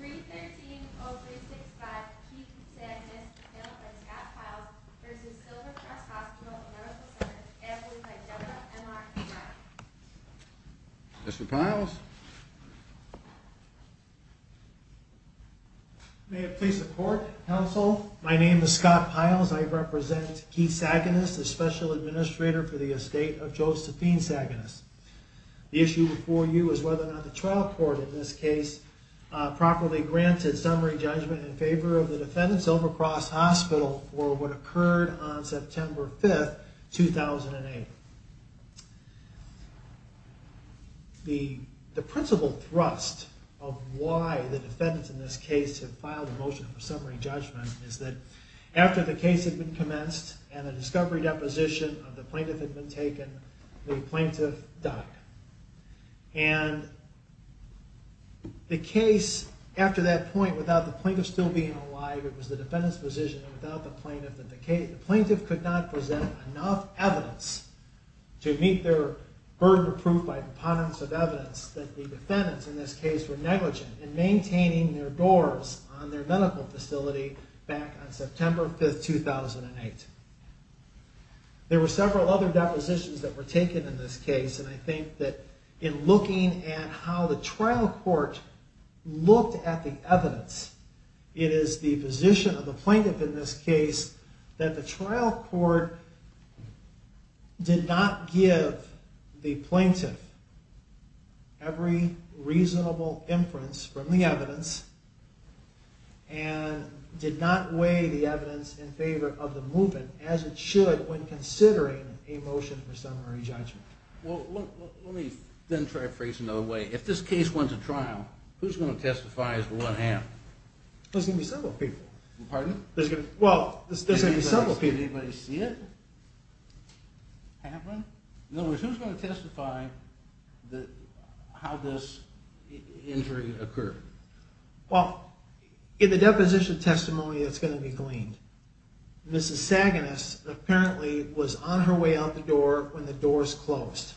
313-0365 Keith Saginus, killed by Scott Piles, v. Silver Cross Hospital, Medical Center, Ambulance by General M.R. McBride The plaintiff has not properly granted summary judgment in favor of the defendants, Silver Cross Hospital, for what occurred on September 5, 2008. The principal thrust of why the defendants in this case have filed a motion for summary judgment is that after the case had been commenced and the discovery deposition of the plaintiff had been taken, the plaintiff died. And the case, after that point, without the plaintiff still being alive, it was the defendant's position that without the plaintiff in the case, the plaintiff could not present enough evidence to meet their burden of proof by components of evidence that the defendants in this case were negligent in maintaining their doors on their medical facility back on September 5, 2008. There were several other depositions that were taken in this case, and I think that in looking at how the trial court looked at the evidence, it is the position of the plaintiff in this case that the trial court did not give the plaintiff every reasonable inference from the evidence, and did not weigh the evidence in favor of the movement as it should when considering a motion for summary judgment. Well, let me then try to phrase it another way. If this case went to trial, who's going to testify as to what happened? There's going to be several people. Pardon? Well, there's going to be several people. Did anybody see it happen? In other words, who's going to testify how this injury occurred? Well, in the deposition testimony, it's going to be gleaned. Mrs. Saganis apparently was on her way out the door when the doors closed.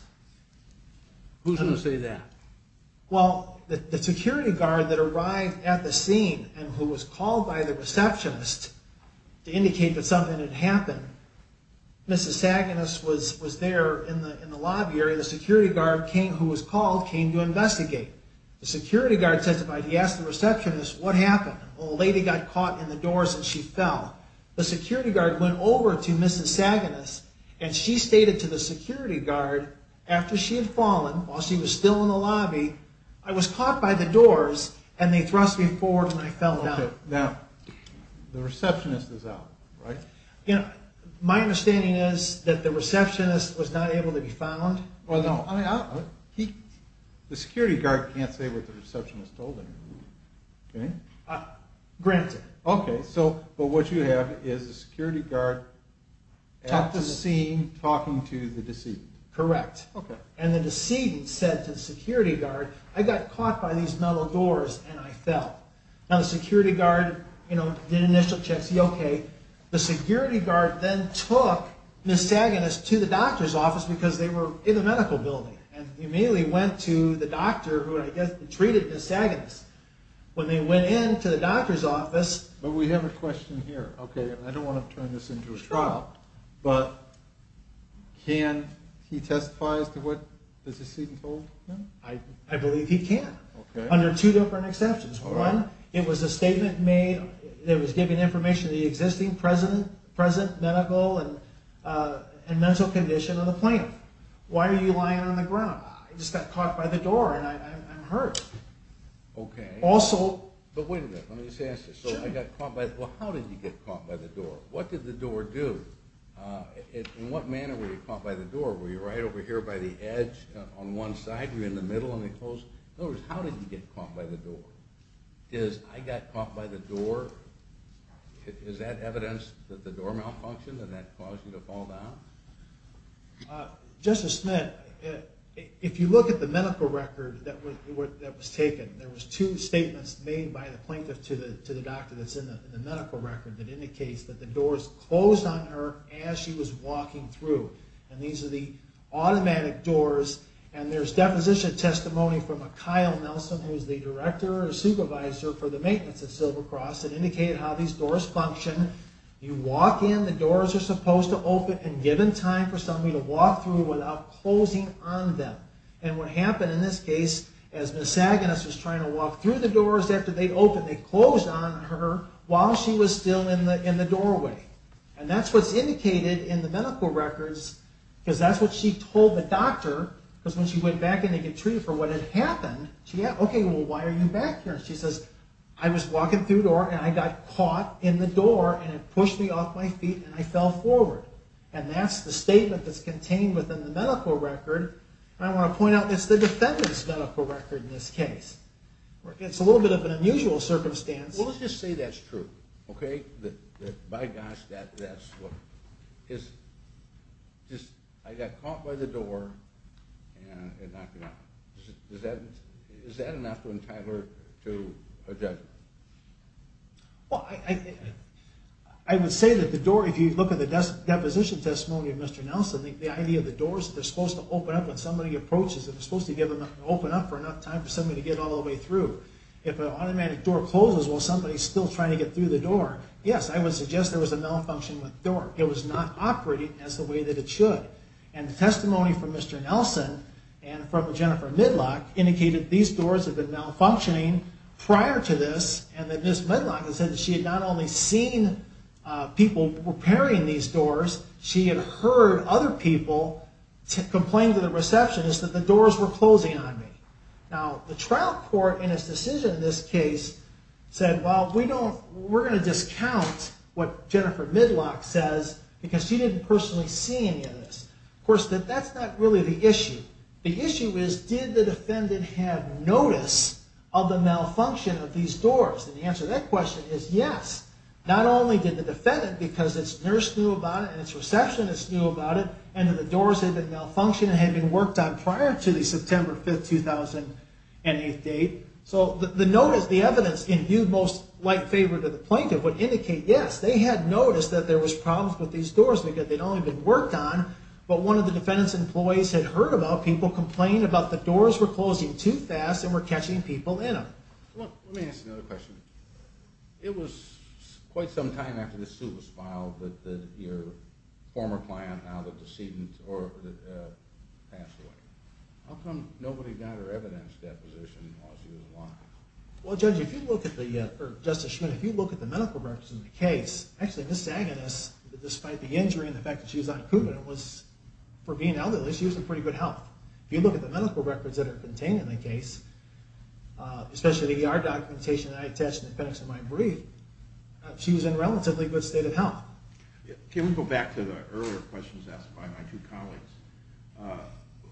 Who's going to say that? Well, the security guard that arrived at the scene and who was called by the receptionist to indicate that something had happened, Mrs. Saganis was there in the lobby area. The security guard who was called came to investigate. The security guard testified. He asked the receptionist what happened. A lady got caught in the doors and she fell. The security guard went over to Mrs. Saganis and she stated to the security guard after she had fallen, while she was still in the lobby, I was caught by the doors and they thrust me forward and I fell down. Now, the receptionist is out, right? My understanding is that the receptionist was not able to be found. Well, no. The security guard can't say what the receptionist told him. Granted. Okay, but what you have is the security guard at the scene talking to the decedent. Correct. And the decedent said to the security guard, I got caught by these metal doors and I fell. Now, the security guard did an initial check to see, okay, the security guard then took Mrs. Saganis to the doctor's office because they were in the medical building. And he immediately went to the doctor who I guess treated Mrs. Saganis. When they went into the doctor's office... But we have a question here. Okay, I don't want to turn this into a trial, but can he testify as to what the decedent told him? I believe he can. Under two different exceptions. One, it was a statement made that was giving information on the existing, present medical and mental condition of the plaintiff. Why are you lying on the ground? I just got caught by the door and I'm hurt. Okay. Also... But wait a minute. Let me just ask this. So I got caught by... Well, how did you get caught by the door? What did the door do? In what manner were you caught by the door? Were you right over here by the edge on one side? Were you in the middle and they closed? In other words, how did you get caught by the door? Is, I got caught by the door, is that evidence that the door malfunctioned and that caused you to fall down? Justice Smith, if you look at the medical record that was taken, there was two statements made by the plaintiff to the doctor that's in the medical record that indicates that the doors closed on her as she was walking through. And these are the automatic doors. And there's deposition testimony from a Kyle Nelson, who's the director or supervisor for the maintenance at Silver Cross that indicated how these doors function. You walk in, the doors are supposed to open and given time for somebody to walk through without closing on them. And what happened in this case, as Miss Agnes was trying to walk through the doors after they opened, they closed on her while she was still in the doorway. And that's what's indicated in the medical records, because that's what she told the doctor. Because when she went back in to get treated for what had happened, she asked, okay, well, why are you back here? And she says, I was walking through the door and I got caught in the door and it pushed me off my feet and I fell forward. And that's the statement that's contained within the medical record. And I want to point out, it's the defendant's medical record in this case. It's a little bit of an unusual circumstance. Well, let's just say that's true, okay? That by gosh, that's what... I got caught by the door and it knocked me off. Is that enough to entitle her to a judgment? Well, I would say that the door, if you look at the deposition testimony of Mr. Nelson, the idea of the doors, they're supposed to open up when somebody approaches. They're supposed to open up for enough time for somebody to get all the way through. If an automatic door closes while somebody's still trying to get through the door, yes, I would suggest there was a malfunction with the door. It was not operating as the way that it should. And the testimony from Mr. Nelson and from Jennifer Midlock indicated these doors had been malfunctioning prior to this, and that Ms. Midlock had said that she had not only seen people repairing these doors, she had heard other people complain to the receptionist that the doors were closing on me. Now, the trial court in its decision in this case said, well, we're going to discount what Jennifer Midlock says because she didn't personally see any of this. Of course, that's not really the issue. The issue is, did the defendant have notice of the malfunction of these doors? And the answer to that question is yes. Not only did the defendant, because its nurse knew about it and its receptionist knew about it, and that the doors had been malfunctioning and had been worked on prior to the September 5, 2008 date. So the evidence in view most like favor to the plaintiff would indicate yes, they had noticed that there was problems with these doors because they'd only been worked on, but one of the defendant's employees had heard about people complaining about the doors were closing too fast and were catching people in them. Let me ask another question. It was quite some time after the suit was filed that your former client, now the decedent, passed away. How come nobody got her evidence deposition while she was alive? Well, Judge, if you look at the, or Justice Schmitt, if you look at the medical records in the case, actually, Ms. Agones, despite the injury and the fact that she was on Coumadin, was, for being elderly, she was in pretty good health. If you look at the medical records that are contained in the case, especially the ER documentation that I attached in the context of my brief, she was in relatively good state of health. Can we go back to the earlier questions asked by my two colleagues?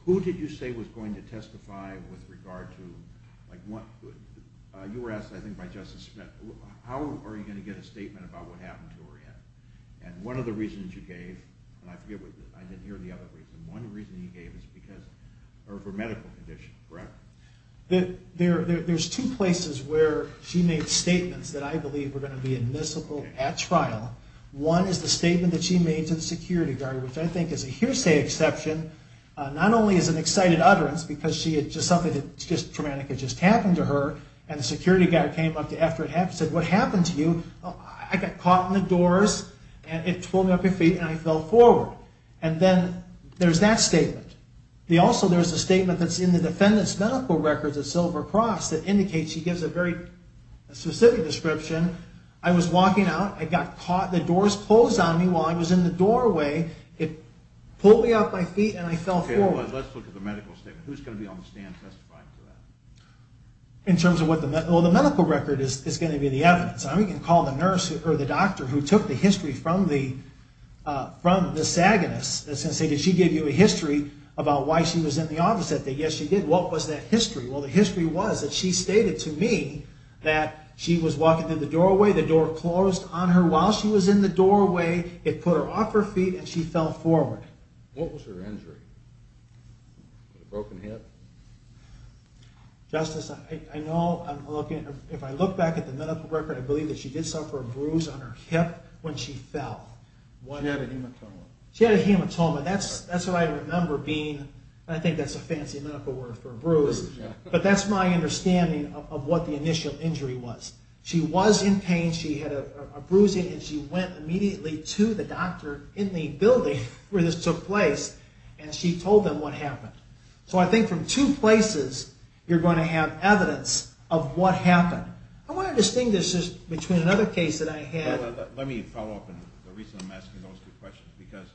Who did you say was going to testify with regard to, like, what, you were asked, I think, by Justice Schmitt, how are you going to get a statement about what happened to Orietta? And one of the reasons you gave, and I forget, I didn't hear the other reason, one reason you gave is because, or for medical conditions, correct? There's two places where she made statements that I believe were going to be admissible at trial. One is the statement that she made to the security guard, which I think is a hearsay exception. Not only is it an excited utterance, because she had just something traumatic had just happened to her, and the security guard came up to her after it happened and said, what happened to you? I got caught in the doors, and it tore me off my feet, and I fell forward. And then there's that statement. Also, there's a statement that's in the defendant's medical records at Silver Cross that indicates she gives a very specific description. I was walking out. I got caught. The doors closed on me while I was in the doorway. It pulled me off my feet, and I fell forward. Okay, let's look at the medical statement. Who's going to be on the stand testifying to that? In terms of what the medical record is, it's going to be the evidence. And we can call the nurse or the doctor who took the history from the, that's going to say, did she give you a history about why she was in the office that day? Yes, she did. What was that history? Well, the history was that she stated to me that she was walking through the doorway. The door closed on her while she was in the doorway. It put her off her feet, and she fell forward. What was her injury? A broken hip? Justice, I know I'm looking at her. If I look back at the medical record, I believe that she did suffer a bruise on her hip when she fell. She had a hematoma. She had a hematoma. That's what I remember being. I think that's a fancy medical word for a bruise. But that's my understanding of what the initial injury was. She was in pain. She had a bruising, and she went immediately to the doctor in the building where this took place, and she told them what happened. So I think from two places, you're going to have evidence of what happened. I want to distinguish this between another case that I had. Let me follow up on the reason I'm asking those two questions because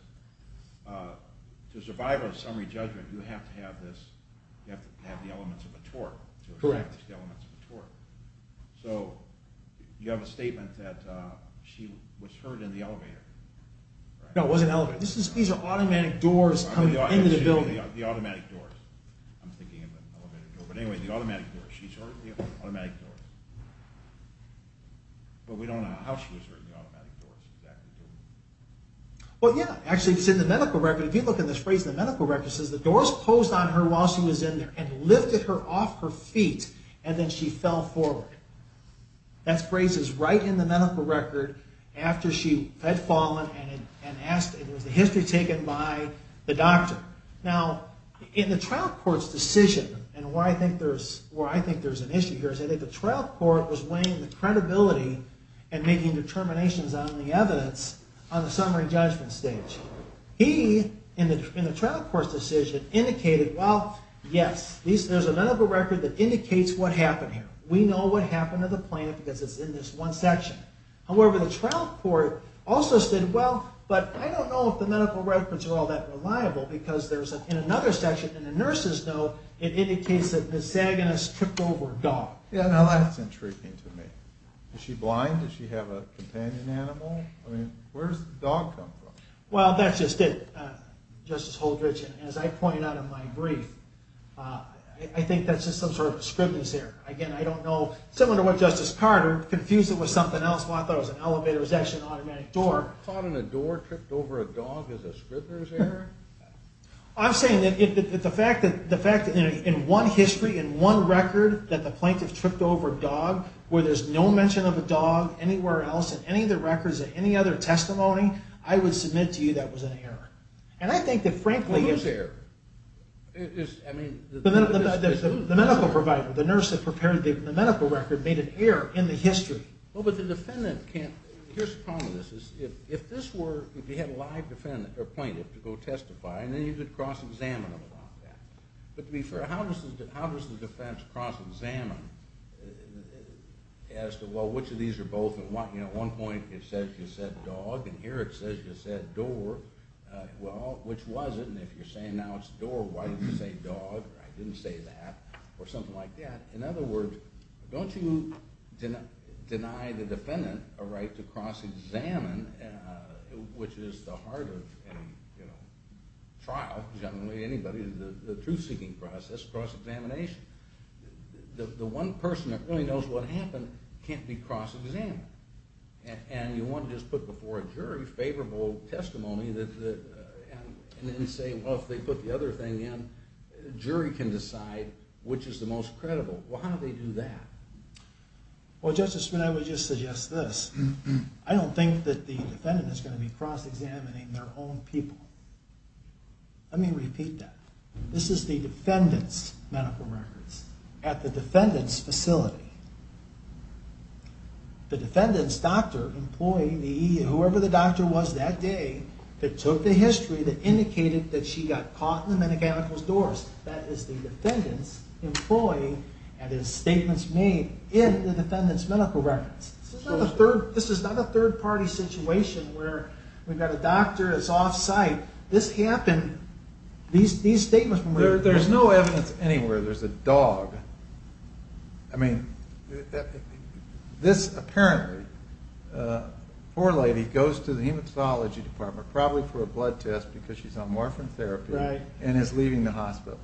to survive a summary judgment, you have to have the elements of a tort. Correct. So you have a statement that she was hurt in the elevator. No, it wasn't an elevator. These are automatic doors coming into the building. The automatic doors. I'm thinking of an elevator door. But anyway, the automatic doors. She's hurt in the automatic doors. But we don't know how she was hurt in the automatic doors. Well, yeah. Actually, it's in the medical record. If you look at this phrase in the medical record, it says the doors posed on her while she was in there and lifted her off her feet, and then she fell forward. That phrase is right in the medical record after she had fallen and asked. It was a history taken by the doctor. Now, in the trial court's decision, and where I think there's an issue here, is that the trial court was weighing the credibility and making determinations on the evidence on the summary judgment stage. He, in the trial court's decision, indicated, well, yes, there's a medical record that indicates what happened here. We know what happened to the plant because it's in this one section. However, the trial court also said, well, but I don't know if the medical records are all that reliable because in another section in the nurse's note, it indicates that Ms. Sagan has tripped over a dog. Yeah, now that's intriguing to me. Is she blind? Does she have a companion animal? I mean, where does the dog come from? Well, that's just it, Justice Holdridge. As I pointed out in my brief, I think that's just some sort of a Scribner's error. Again, I don't know. Similar to what Justice Carter, confused it with something else. Well, I thought it was an elevator. It was actually an automatic door. A dog caught in a door tripped over a dog is a Scribner's error? I'm saying that the fact that in one history, in one record that the plaintiff tripped over a dog where there's no mention of a dog anywhere else in any of the records of any other testimony, I would submit to you that was an error. And I think that frankly... Who's error? The medical provider. The nurse that prepared the medical record made an error in the history. Well, but the defendant can't... Here's the problem with this. If this were... And then you could cross-examine them on that. But to be fair, how does the defense cross-examine as to, well, which of these are both... At one point it says you said dog, and here it says you said door. Well, which was it? And if you're saying now it's door, why did you say dog? I didn't say that. Or something like that. In other words, don't you deny the defendant a right to cross-examine, which is the heart of any trial, generally anybody, the truth-seeking process, cross-examination. The one person that really knows what happened can't be cross-examined. And you want to just put before a jury favorable testimony and then say, well, if they put the other thing in, jury can decide which is the most credible. Well, how do they do that? Well, Justice Spine, I would just suggest this. I don't think that the defendant is going to be cross-examining their own people. Let me repeat that. This is the defendant's medical records at the defendant's facility. The defendant's doctor, employee, whoever the doctor was that day that took the history that indicated that she got caught in the medical records doors, that is the defendant's employee and his statements made in the defendant's medical records. This is not a third-party situation where we've got a doctor that's off-site. This happened. These statements were made. There's no evidence anywhere. There's a dog. I mean, this apparently, poor lady goes to the hematology department probably for a blood test because she's on morphine therapy and is leaving the hospital.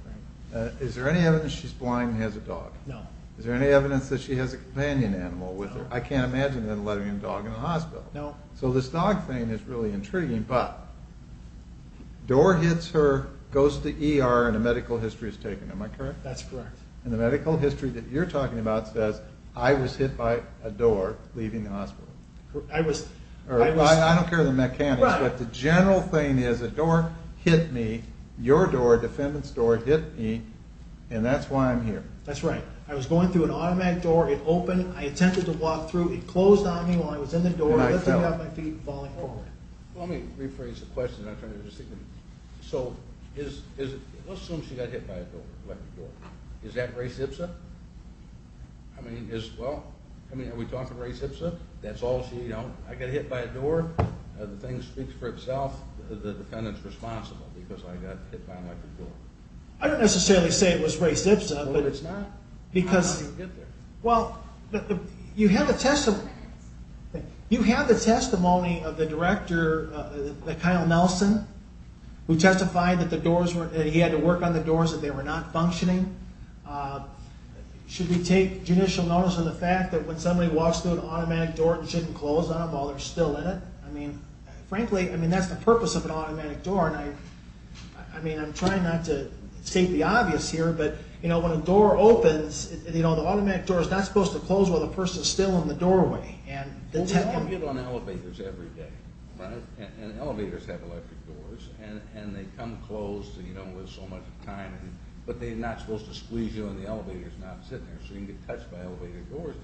Is there any evidence she's blind and has a dog? No. Is there any evidence that she has a companion animal with her? I can't imagine them letting a dog in a hospital. No. So this dog thing is really intriguing, but door hits her, goes to ER, and a medical history is taken. Am I correct? That's correct. And the medical history that you're talking about says I was hit by a door leaving the hospital. I was... I don't care the mechanics, but the general thing is a door hit me, your door, defendant's door hit me, and that's why I'm here. That's right. I was going through an automatic door. It opened. I attempted to walk through. It closed on me while I was in the door, lifting me off my feet and falling forward. Let me rephrase the question. I'm trying to understand. So let's assume she got hit by a door, an electric door. Is that Ray Zipsa? I mean, is... Well, I mean, are we talking Ray Zipsa? That's all she... You know, I got hit by a door. The thing speaks for itself. The defendant's responsible because I got hit by an electric door. I don't necessarily say it was Ray Zipsa. No, it's not. Because... How did he get there? Well, you have a testimony... You have the testimony of the director, Kyle Nelson, who testified that the doors were... that he had to work on the doors that they were not functioning. Should we take judicial notice of the fact that when somebody walks through an automatic door, it shouldn't close on them while they're still in it? I mean, frankly, I mean, that's the purpose of an automatic door, and I... I mean, I'm trying not to take the obvious here, but, you know, when a door opens, you know, the automatic door is not supposed to close while the person's still in the doorway. Well, we all get on elevators every day, right? And elevators have electric doors, and they come closed, you know, with so much time, but they're not supposed to squeeze you and the elevator's not sitting there, so you can get touched by elevator doors.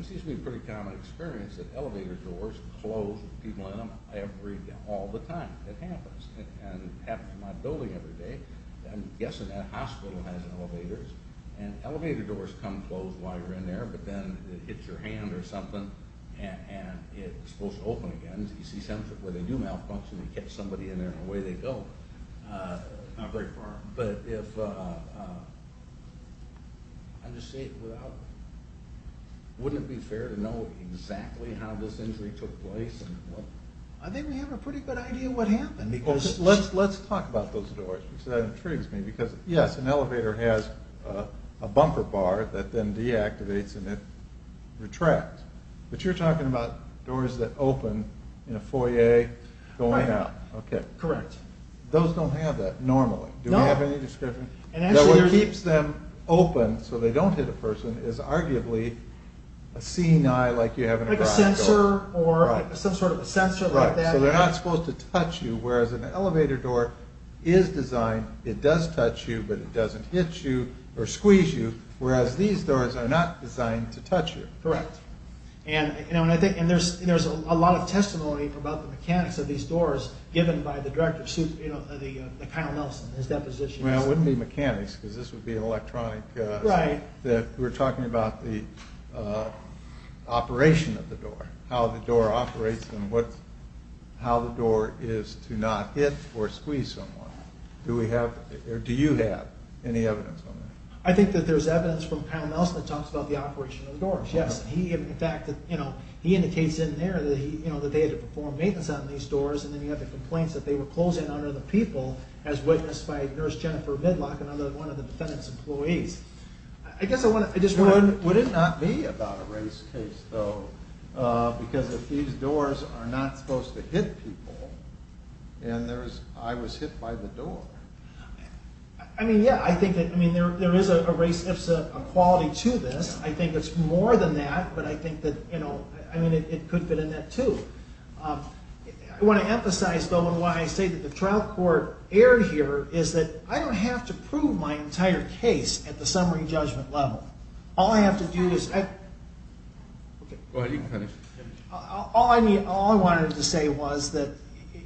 It seems to be a pretty common experience that elevator doors close with people in them every... all the time. It happens. It happens in my building every day. I'm guessing that hospital has elevators, and elevator doors come closed while you're in there, but then it hits your hand or something, and it's supposed to open again. You see some where they do malfunction, you catch somebody in there, and away they go. Not very far. But if... I'm just saying, without... Wouldn't it be fair to know exactly how this injury took place? I think we have a pretty good idea what happened, because... Well, let's talk about those doors, because that intrigues me, because, yes, an elevator has a bumper bar that then deactivates and it retracts. But you're talking about doors that open in a foyer going out. Right now. Correct. Those don't have that normally. Do we have any description? No. What keeps them open so they don't hit a person is arguably a seeing eye, like you have in a garage door. Like a sensor, or some sort of a sensor like that. Right. So they're not supposed to touch you, whereas an elevator door is designed... It doesn't touch you, but it doesn't hit you, or squeeze you, whereas these doors are not designed to touch you. Correct. And there's a lot of testimony about the mechanics of these doors given by the director, Kyle Nelson, in his deposition. Well, it wouldn't be mechanics, because this would be an electronic... Right. We're talking about the operation of the door, how the door operates, and how the door is to not hit or squeeze someone. Do we have, or do you have, any evidence on that? I think that there's evidence from Kyle Nelson that talks about the operation of the doors, yes. In fact, he indicates in there that they had to perform maintenance on these doors, and then you have the complaints that they were closing on other people, as witnessed by Nurse Jennifer Midlock, another one of the defendant's employees. I guess I just want to... Would it not be about a race case, though? Because if these doors are not supposed to hit people, and I was hit by the door... I mean, yeah, I think that there is a race, there's a quality to this. I think it's more than that, but I think that it could fit in that, too. I want to emphasize, though, and why I say that the trial court error here is that I don't have to prove my entire case at the summary judgment level. All I have to do is... Go ahead, you can finish. All I wanted to say was that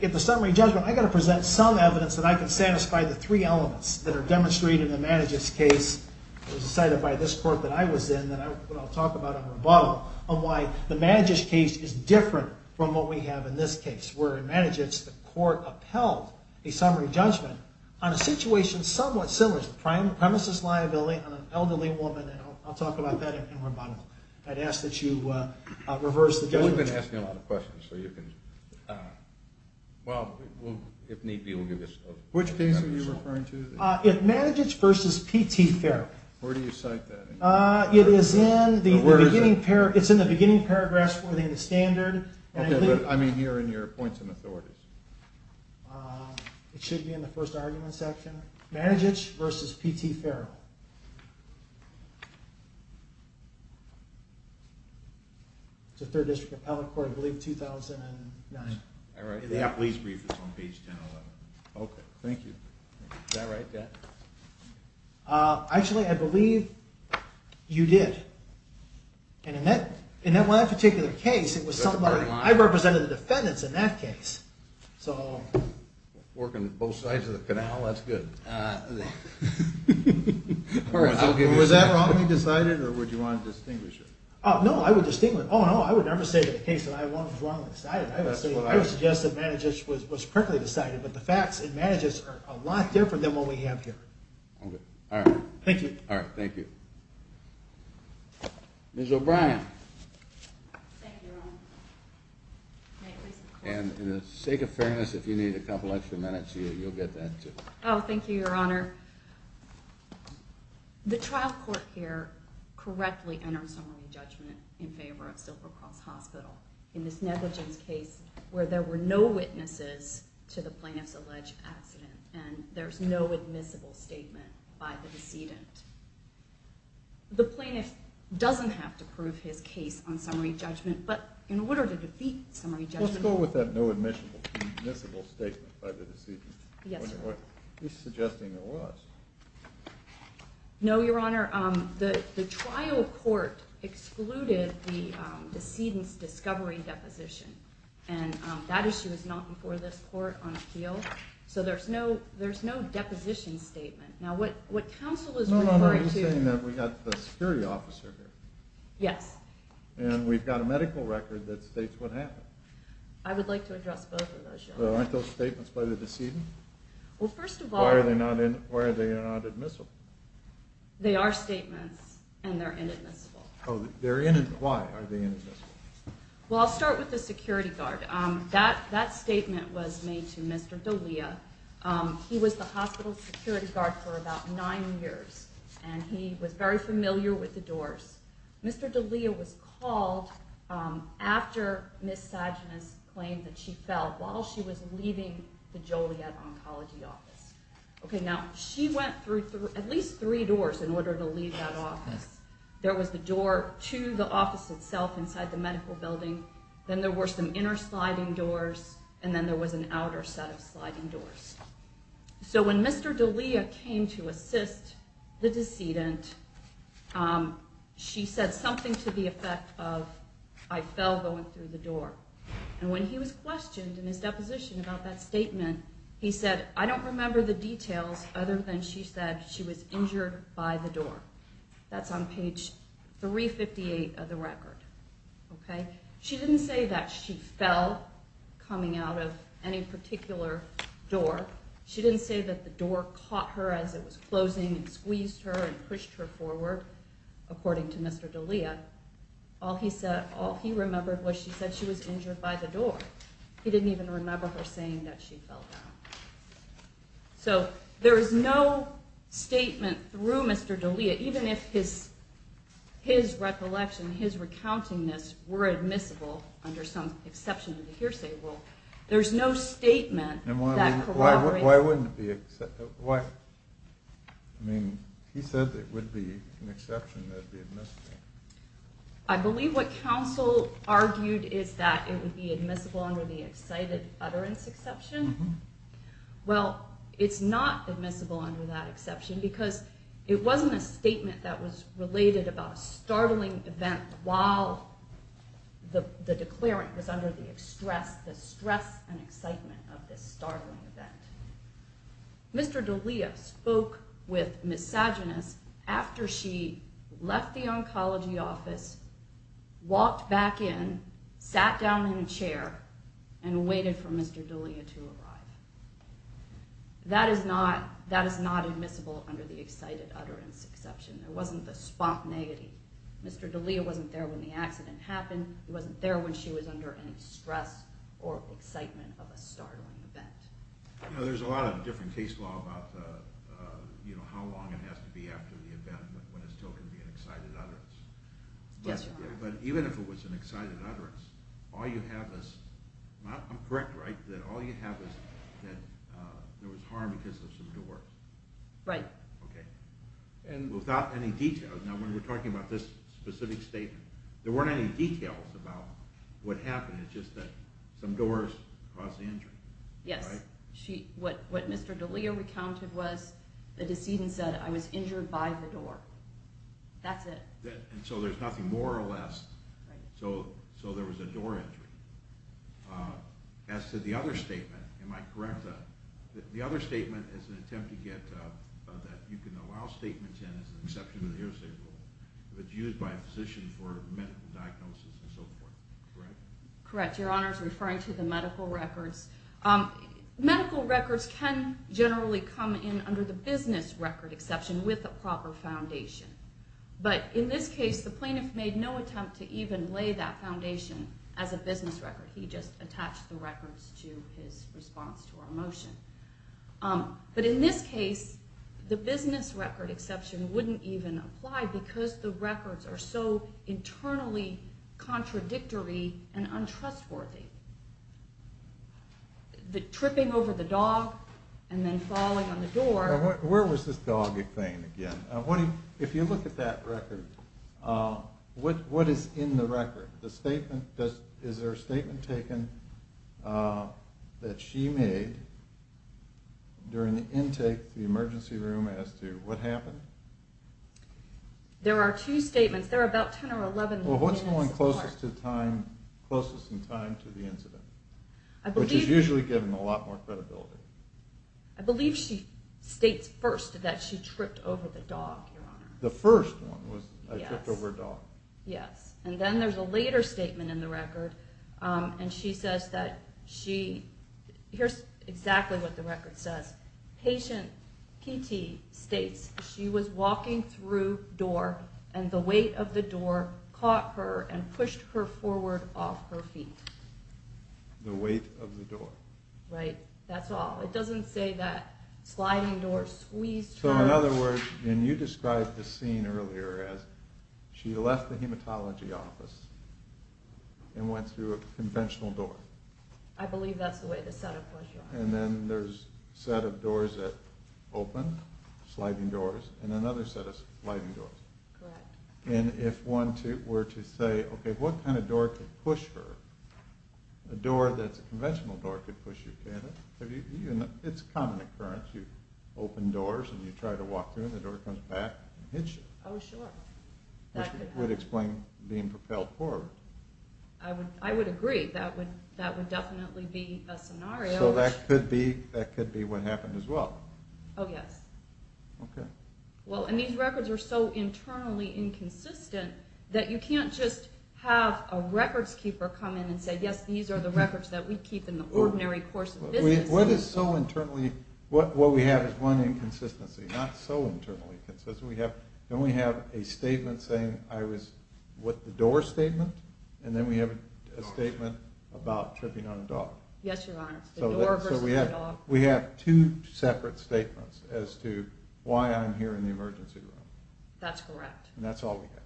at the summary judgment, I've got to present some evidence that I can satisfy the three elements that are demonstrated in the Madiget's case that was decided by this court that I was in that I'll talk about in rebuttal on why the Madiget's case is different from what we have in this case, where in Madiget's the court upheld a summary judgment on a situation somewhat similar to the premises liability on an elderly woman, and I'll talk about that in rebuttal. I'd ask that you reverse the judgment. We've been asking a lot of questions, so you can... Well, if need be, we'll give you... Which case are you referring to? Madiget's v. P.T. Farrell. Where do you cite that? It is in the beginning paragraphs for the standard. I mean here in your points and authorities. It should be in the first argument section. Madiget's v. P.T. Farrell. It's the 3rd District Appellate Court, I believe, 2009. Yeah, please read this on page 1011. Okay, thank you. Is that right, Dad? Actually, I believe you did. And in that particular case, I represented the defendants in that case. Working both sides of the canal? That's good. I'm sorry. Was that wrongly decided, or would you want to distinguish it? No, I would distinguish it. I would never say that the case that I won was wrongly decided. I would suggest that Madiget's was correctly decided, but the facts in Madiget's are a lot different than what we have here. Okay, all right. Thank you. Ms. O'Brien. Thank you, Your Honor. And in the sake of fairness, if you need a couple extra minutes, you'll get that, too. Oh, thank you, Your Honor. The trial court here correctly entered summary judgment in favor of Silver Cross Hospital. In Ms. Netherton's case, where there were no witnesses to the plaintiff's alleged accident, and there's no admissible statement by the decedent. The plaintiff doesn't have to prove his case on summary judgment, but in order to defeat summary judgment... Let's go with that no admissible statement by the decedent. Yes, Your Honor. He's suggesting it was. No, Your Honor. The trial court excluded the decedent's discovery deposition, and that issue is not before this court on appeal, so there's no deposition statement. Now, what counsel is referring to... No, no, no, I'm saying that we've got the security officer here. Yes. And we've got a medical record that states what happened. I would like to address both of those, Your Honor. Aren't those statements by the decedent? Well, first of all... Why are they not admissible? They are statements, and they're inadmissible. Oh, they're inadmissible. Why are they inadmissible? Well, I'll start with the security guard. That statement was made to Mr. D'Elia. He was the hospital's security guard for about 9 years, and he was very familiar with the doors. Mr. D'Elia was called after Ms. Sagenas claimed that she fell while she was leaving the Joliet Oncology Office. Okay, now, she went through at least three doors in order to leave that office. There was the door to the office itself inside the medical building, then there were some inner sliding doors, and then there was an outer set of sliding doors. So when Mr. D'Elia came to assist the decedent, she said something to the effect of, I fell going through the door. And when he was questioned in his deposition about that statement, he said, I don't remember the details other than she said she was injured by the door. That's on page 358 of the record. She didn't say that she fell coming out of any particular door. She didn't say that the door caught her as it was closing and squeezed her and pushed her forward, according to Mr. D'Elia. All he remembered was she said she was injured by the door. He didn't even remember her saying that she fell down. So there is no statement through Mr. D'Elia, even if his recollection, his recounting this, were admissible under some exception of the hearsay rule, there's no statement that corroborates that. Why? I mean, he said there would be an exception that would be admissible. I believe what counsel argued is that it would be admissible under the excited utterance exception. Well, it's not admissible under that exception because it wasn't a statement that was related about a startling event while the declarant was under the stress and excitement of this startling event. Mr. D'Elia spoke with Miss Sageness after she left the oncology office, walked back in, sat down in a chair, and waited for Mr. D'Elia to arrive. That is not admissible under the excited utterance exception. There wasn't the spontaneity. Mr. D'Elia wasn't there when the accident happened. He wasn't there when she was under any stress or excitement of a startling event. Now, there's a lot of different case law about how long it has to be after the event when it's still going to be an excited utterance. Yes, Your Honor. But even if it was an excited utterance, all you have is—I'm correct, right? All you have is that there was harm because of some door. Right. Okay. Without any detail. Now, when we're talking about this specific statement, there weren't any details about what happened. It's just that some doors caused the injury, right? Yes. What Mr. D'Elia recounted was the decedent said, I was injured by the door. That's it. And so there's nothing more or less. Right. So there was a door injury. As to the other statement, am I correct? The other statement is an attempt to get— that you can allow statements in as an exception to the hearsay rule. If it's used by a physician for medical diagnosis and so forth. Correct? Correct. Your Honor is referring to the medical records. Medical records can generally come in under the business record exception with a proper foundation. But in this case, the plaintiff made no attempt to even lay that foundation as a business record. He just attached the records to his response to our motion. But in this case, the business record exception wouldn't even apply because the records are so internally contradictory and untrustworthy. The tripping over the dog and then falling on the door. Where was this dog thing again? If you look at that record, what is in the record? Is there a statement taken that she made during the intake to the emergency room as to what happened? There are two statements. There are about 10 or 11. Well, what's the one closest in time to the incident? Which is usually given a lot more credibility. I believe she states first that she tripped over the dog, Your Honor. The first one was I tripped over a dog. Yes. And then there's a later statement in the record. And she says that she—here's exactly what the record says. Patient P.T. states she was walking through door and the weight of the door caught her and pushed her forward off her feet. The weight of the door. Right. That's all. It doesn't say that sliding door squeezed her. So in other words, and you described this scene earlier as she left the hematology office and went through a conventional door. I believe that's the way the setup was, Your Honor. And then there's a set of doors that open, sliding doors, and another set of sliding doors. Correct. And if one were to say, okay, what kind of door could push her, a door that's a conventional door could push you, can't it? It's a common occurrence. You open doors and you try to walk through them. The door comes back and hits you. Oh, sure. Which would explain being propelled forward. I would agree. That would definitely be a scenario. So that could be what happened as well. Oh, yes. Okay. Well, and these records are so internally inconsistent that you can't just have a records keeper come in and say, yes, these are the records that we keep in the ordinary course of business. What is so internally, what we have is one inconsistency, not so internally consistent. Then we have a statement saying I was with the door statement, and then we have a statement about tripping on a dog. Yes, Your Honor. It's the door versus the dog. So we have two separate statements as to why I'm here in the emergency room. That's correct. And that's all we have.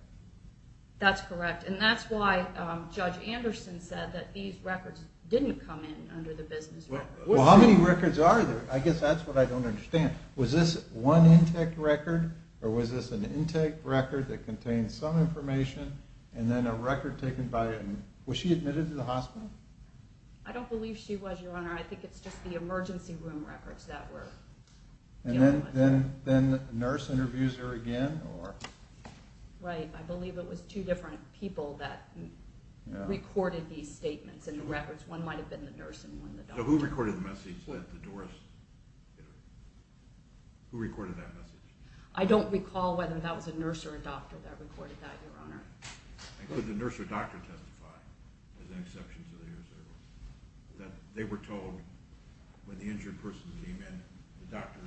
That's correct. And that's why Judge Anderson said that these records didn't come in under the business record. Well, how many records are there? I guess that's what I don't understand. Was this one intake record, or was this an intake record that contained some information and then a record taken by a, was she admitted to the hospital? I don't believe she was, Your Honor. I think it's just the emergency room records that were given. Then a nurse interviews her again, or? Right. I believe it was two different people that recorded these statements and the records. One might have been the nurse and one the doctor. So who recorded the message that the doors hit her? Who recorded that message? I don't recall whether that was a nurse or a doctor that recorded that, Your Honor. And could the nurse or doctor testify, as an exception to their service, that they were told when the injured person came in, the doctor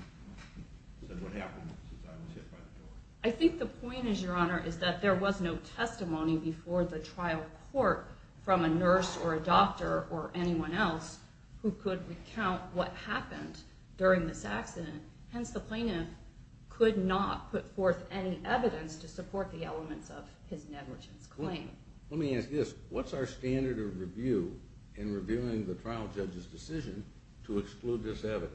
said what happened since I was hit by the door? I think the point is, Your Honor, is that there was no testimony before the trial court from a nurse or a doctor or anyone else who could recount what happened during this accident. Hence, the plaintiff could not put forth any evidence to support the elements of his negligence claim. Let me ask this. What's our standard of review in reviewing the trial judge's decision to exclude this evidence?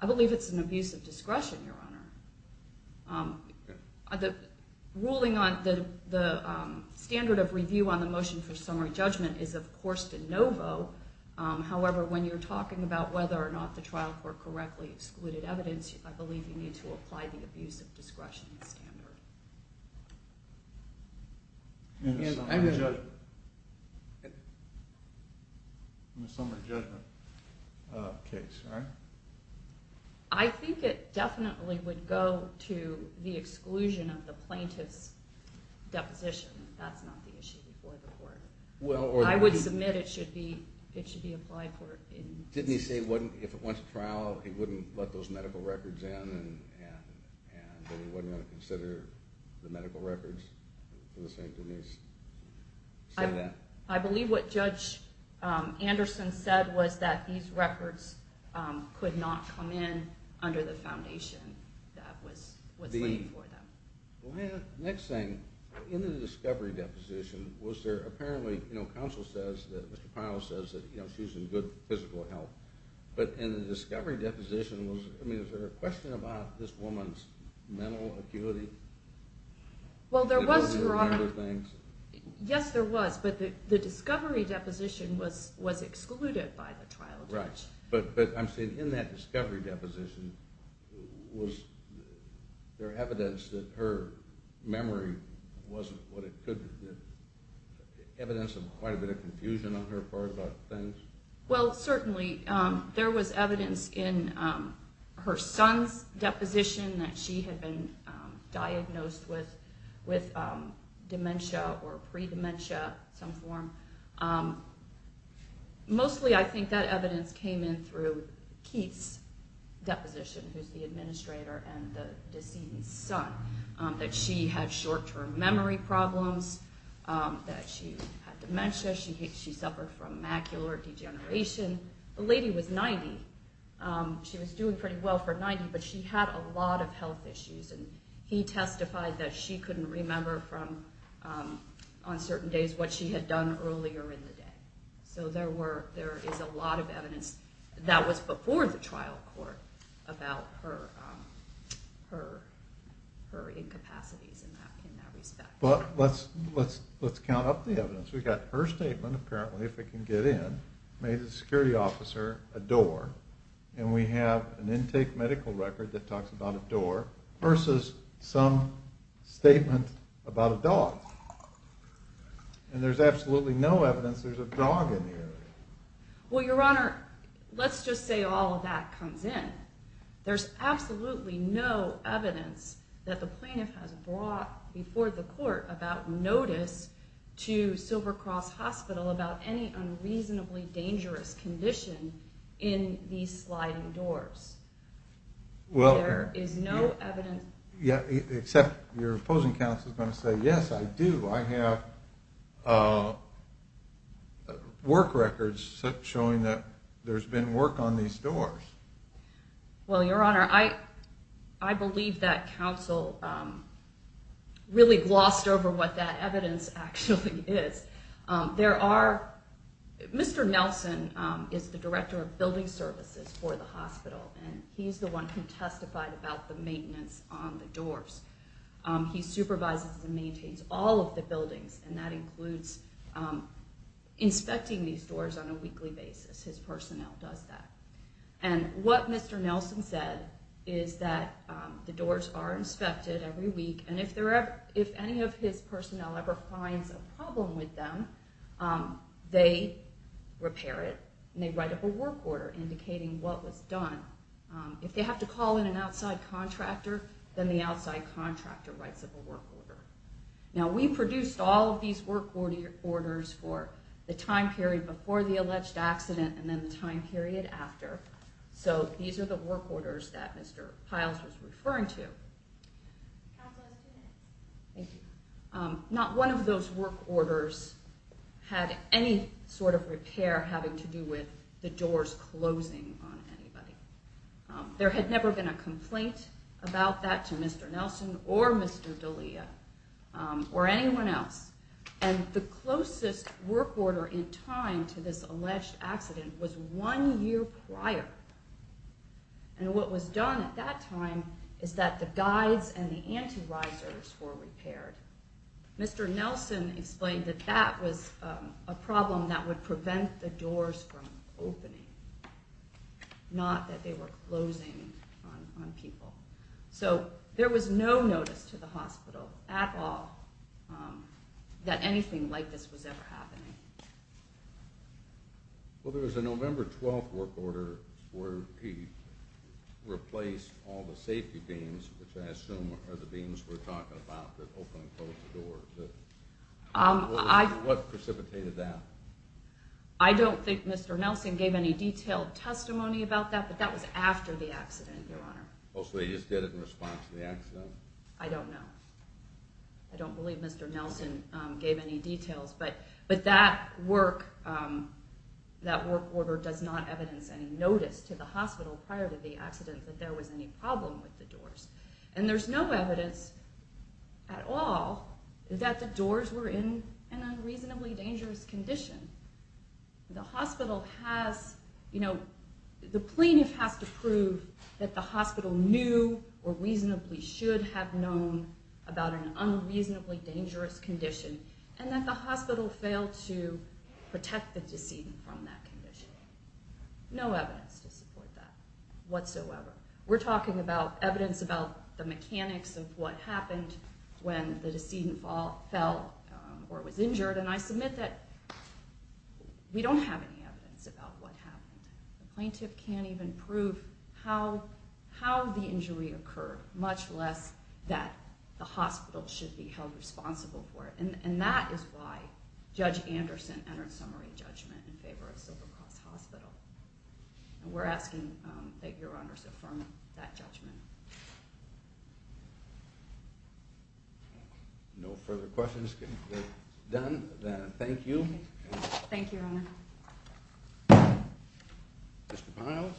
I believe it's an abuse of discretion, Your Honor. The standard of review on the motion for summary judgment is, of course, de novo. However, when you're talking about whether or not the trial court correctly excluded evidence, I believe you need to apply the abuse of discretion standard. In the summary judgment case, right? I think it definitely would go to the exclusion of the plaintiff's deposition. That's not the issue before the court. I would submit it should be applied for. Didn't he say if it went to trial, he wouldn't let those medical records in and that he wasn't going to consider the medical records? I believe what Judge Anderson said was that these records could not come in under the foundation that was laid for them. Next thing, in the discovery deposition, was there apparently, counsel says that she's in good physical health, but in the discovery deposition, was there a question about this woman's mental acuity? Well, there was, Your Honor. Yes, there was, but the discovery deposition was excluded by the trial judge. Right, but I'm saying in that discovery deposition, was there evidence that her memory wasn't what it could be? Evidence of quite a bit of confusion on her part about things? Well, certainly there was evidence in her son's deposition that she had been diagnosed with dementia or predementia of some form. Mostly, I think that evidence came in through Keith's deposition, who's the administrator, and the deceased's son, that she had short-term memory problems, that she had dementia, she suffered from macular degeneration. The lady was 90. She was doing pretty well for 90, but she had a lot of health issues, and he testified that she couldn't remember on certain days what she had done earlier in the day. So there is a lot of evidence that was before the trial court about her incapacities in that respect. But let's count up the evidence. We've got her statement, apparently, if we can get in, made the security officer a door, and we have an intake medical record that talks about a door versus some statement about a dog. And there's absolutely no evidence there's a dog in the area. Well, Your Honor, let's just say all of that comes in. There's absolutely no evidence that the plaintiff has brought before the court about notice to Silver Cross Hospital about any unreasonably dangerous condition in these sliding doors. There is no evidence. Except your opposing counsel is going to say, yes, I do. I have work records showing that there's been work on these doors. Well, Your Honor, I believe that counsel really glossed over what that evidence actually is. Mr. Nelson is the director of building services for the hospital, and he's the one who testified about the maintenance on the doors. He supervises and maintains all of the buildings, and that includes inspecting these doors on a weekly basis. His personnel does that. And what Mr. Nelson said is that the doors are inspected every week, and if any of his personnel ever finds a problem with them, they repair it and they write up a work order indicating what was done. If they have to call in an outside contractor, then the outside contractor writes up a work order. Now, we produced all of these work orders for the time period before the alleged accident and then the time period after. So these are the work orders that Mr. Piles was referring to. Counsel, I see that. Thank you. Not one of those work orders had any sort of repair having to do with the doors closing on anybody. There had never been a complaint about that to Mr. Nelson or Mr. D'Elia or anyone else, and the closest work order in time to this alleged accident was one year prior. And what was done at that time is that the guides and the anti-risers were repaired. Mr. Nelson explained that that was a problem that would prevent the doors from opening, not that they were closing on people. So there was no notice to the hospital at all that anything like this was ever happening. Well, there was a November 12th work order where he replaced all the safety beams, which I assume are the beams we're talking about that open and close the doors. What precipitated that? I don't think Mr. Nelson gave any detailed testimony about that, but that was after the accident, Your Honor. Oh, so they just did it in response to the accident? I don't know. I don't believe Mr. Nelson gave any details. But that work order does not evidence any notice to the hospital prior to the accident that there was any problem with the doors. And there's no evidence at all that the doors were in an unreasonably dangerous condition. The hospital has... You know, the plaintiff has to prove that the hospital knew or reasonably should have known about an unreasonably dangerous condition and that the hospital failed to protect the decedent from that condition. No evidence to support that whatsoever. We're talking about evidence about the mechanics of what happened when the decedent fell or was injured, and I submit that we don't have any evidence about what happened. The plaintiff can't even prove how the injury occurred, much less that the hospital should be held responsible for it. And that is why Judge Anderson entered summary judgment in favor of Silver Cross Hospital. And we're asking that Your Honors affirm that judgment. No further questions can be done, then thank you. Thank you, Your Honor. Mr. Piles?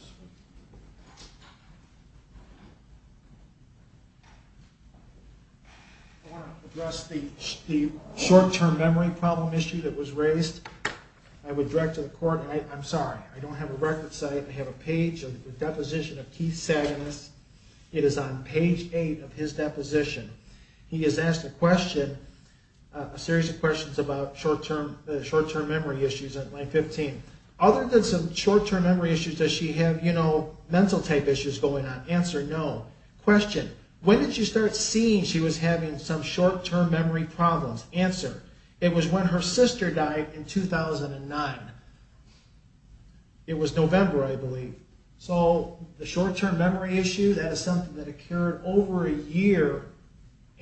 I want to address the short-term memory problem issue that was raised. I would direct to the court... I'm sorry, I don't have a record site. I have a page of the deposition of Keith Saganis. It is on page 8 of his deposition. He has asked a question, a series of questions, about short-term memory issues at age 15. Other than some short-term memory issues, does she have mental-type issues going on? Answer, no. Question, when did she start seeing she was having some short-term memory problems? Answer, it was when her sister died in 2009. It was November, I believe. So the short-term memory issue, that is something that occurred over a year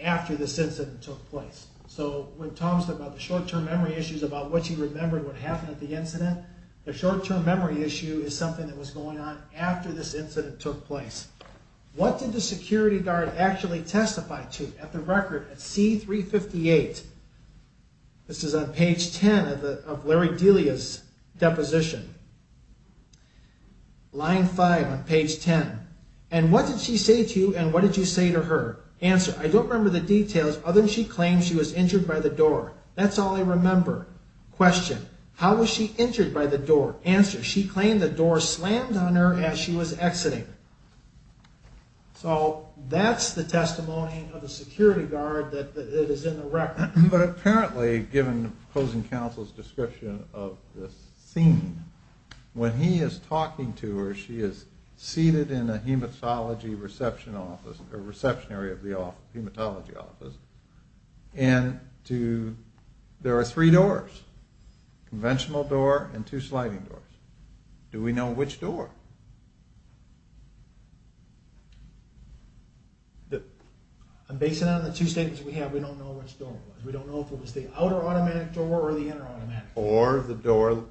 after this incident took place. So when Tom's talking about the short-term memory issues, about what she remembered what happened at the incident, the short-term memory issue is something that was going on after this incident took place. What did the security guard actually testify to at the record at C-358? This is on page 10 of Larry Delia's deposition. Line 5 on page 10. And what did she say to you and what did you say to her? Answer, I don't remember the details other than she claimed she was injured by the door. That's all I remember. Question, how was she injured by the door? Answer, she claimed the door slammed on her as she was exiting. So that's the testimony of the security guard that is in the record. But apparently, given opposing counsel's description of the scene, when he is talking to her, she is seated in a hematology reception office, a reception area of the hematology office, and there are three doors, a conventional door and two sliding doors. Do we know which door? Based on the two statements we have, we don't know which door it was. We don't know if it was the outer automatic door or the inner automatic door. Or the door...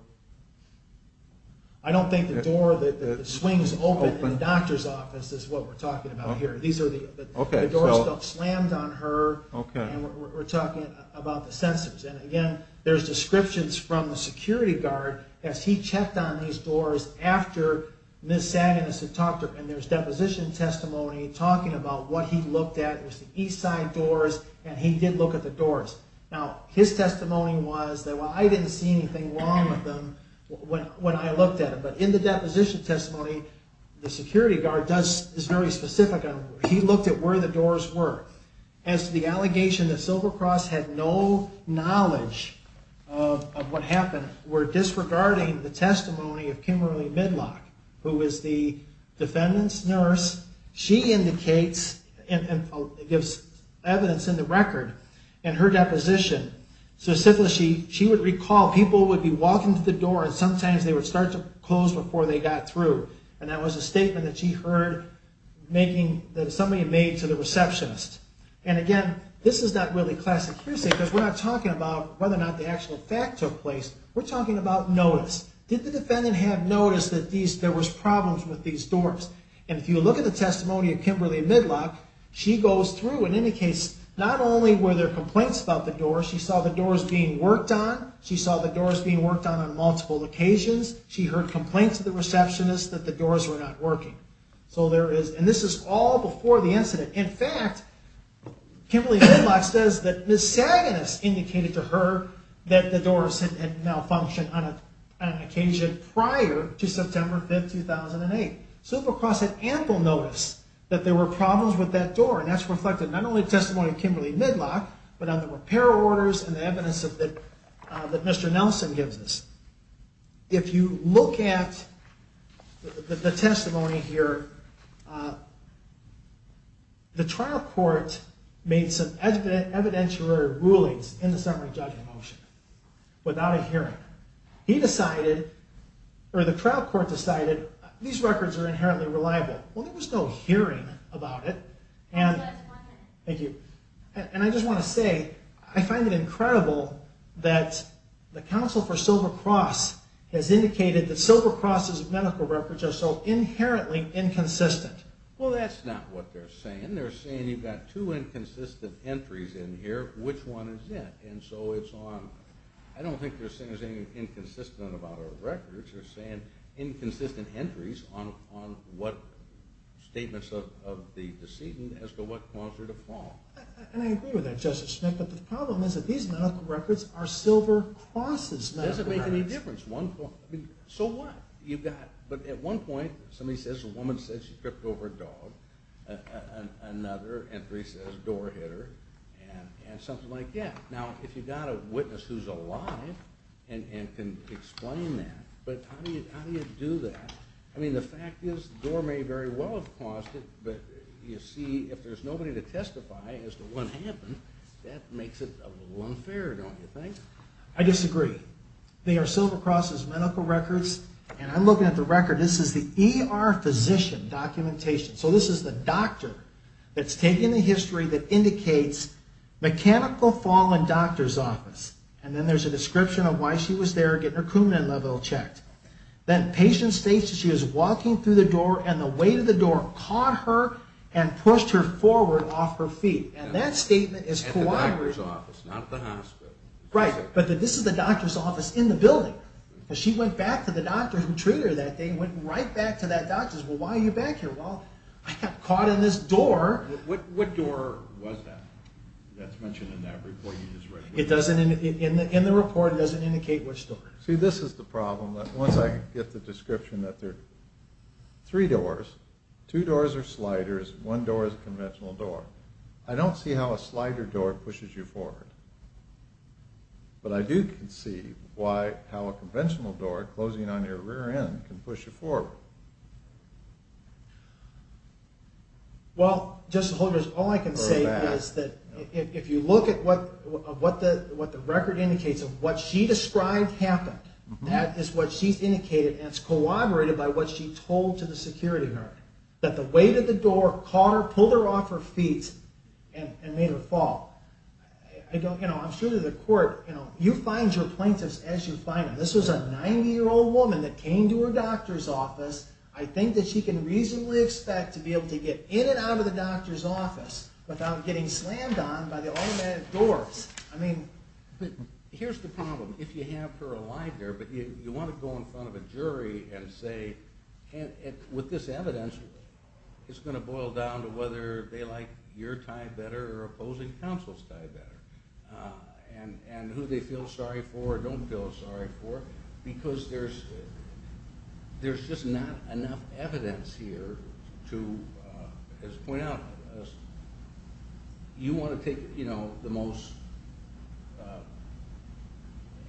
I don't think the door, the swings open in the doctor's office is what we're talking about here. The door slammed on her, and we're talking about the sensors. And again, there's descriptions from the security guard as he checked on these doors after Ms. Sagan has talked to her. And there's deposition testimony talking about what he looked at. It was the east side doors, and he did look at the doors. Now, his testimony was that, well, I didn't see anything wrong with them when I looked at them. But in the deposition testimony, the security guard is very specific. He looked at where the doors were. As to the allegation that Silvercross had no knowledge of what happened, we're disregarding the testimony of Kimberly Midlock, who is the defendant's nurse. She indicates and gives evidence in the record in her deposition. Specifically, she would recall people would be walking to the door and sometimes they would start to close before they got through. And that was a statement that she heard that somebody made to the receptionist. And again, this is not really classic hearsay, because we're not talking about whether or not the actual fact took place. We're talking about notice. Did the defendant have notice that there was problems with these doors? And if you look at the testimony of Kimberly Midlock, she goes through and indicates not only were there complaints about the doors, she saw the doors being worked on. She saw the doors being worked on on multiple occasions. She heard complaints of the receptionist that the doors were not working. And this is all before the incident. In fact, Kimberly Midlock says that Ms. Saganis indicated to her that the doors had malfunctioned on an occasion prior to September 5, 2008. Silvercross had ample notice that there were problems with that door, and that's reflected not only in the testimony of Kimberly Midlock, but on the repair orders and the evidence that Mr. Nelson gives us. If you look at the testimony here, the trial court made some evidentiary rulings in the summary judgment motion without a hearing. He decided, or the trial court decided, these records are inherently reliable. Well, there was no hearing about it. And I just want to say, I find it incredible that the counsel for Silvercross has indicated that Silvercross's medical records are so inherently inconsistent. Well, that's not what they're saying. They're saying you've got two inconsistent entries in here. Which one is it? And so it's on... I don't think they're saying there's anything inconsistent about our records. They're saying inconsistent entries on what statements of the decedent as to what caused her to fall. And I agree with that, Justice Smith, but the problem is that these medical records are Silvercross's medical records. It doesn't make any difference. So what? You've got... But at one point, somebody says, a woman says she tripped over a dog, another entry says door hit her, and something like that. Now, if you've got a witness who's alive and can explain that, but how do you do that? I mean, the fact is, the door may very well have caused it, but you see, if there's nobody to testify as to what happened, that makes it a little unfair, don't you think? I disagree. They are Silvercross's medical records, and I'm looking at the record. This is the ER physician documentation. So this is the doctor that's taking the history that indicates mechanical fall in doctor's office. And then there's a description of why she was there, getting her Coumadin level checked. Then patient states that she was walking through the door and the weight of the door caught her and pushed her forward off her feet. And that statement is Coumadin. At the doctor's office, not at the hospital. Right, but this is the doctor's office in the building. She went back to the doctor who treated her that day and went right back to that doctor and said, well, why are you back here? Well, I got caught in this door. What door was that? That's mentioned in that report you just read. In the report, it doesn't indicate which door. See, this is the problem. Once I get the description that there are three doors, two doors are sliders, one door is a conventional door, I don't see how a slider door pushes you forward. But I do see how a conventional door, closing on your rear end, can push you forward. Well, Justice Holdren, all I can say is that if you look at what the record indicates of what she described happened, that is what she's indicated, and it's corroborated by what she told to the security guard, that the weight of the door caught her, pulled her off her feet, and made her fall. I'm sure to the court, you find your plaintiffs as you find them. This was a 90-year-old woman that came to her doctor's office. I think that she can reasonably expect to be able to get in and out of the doctor's office without getting slammed on by the automatic doors. But here's the problem. If you have her alive there, but you want to go in front of a jury and say, with this evidence, it's going to boil down to whether they like your tie better or opposing counsel's tie better, and who they feel sorry for or don't feel sorry for, because there's just not enough evidence here to point out you want to take the most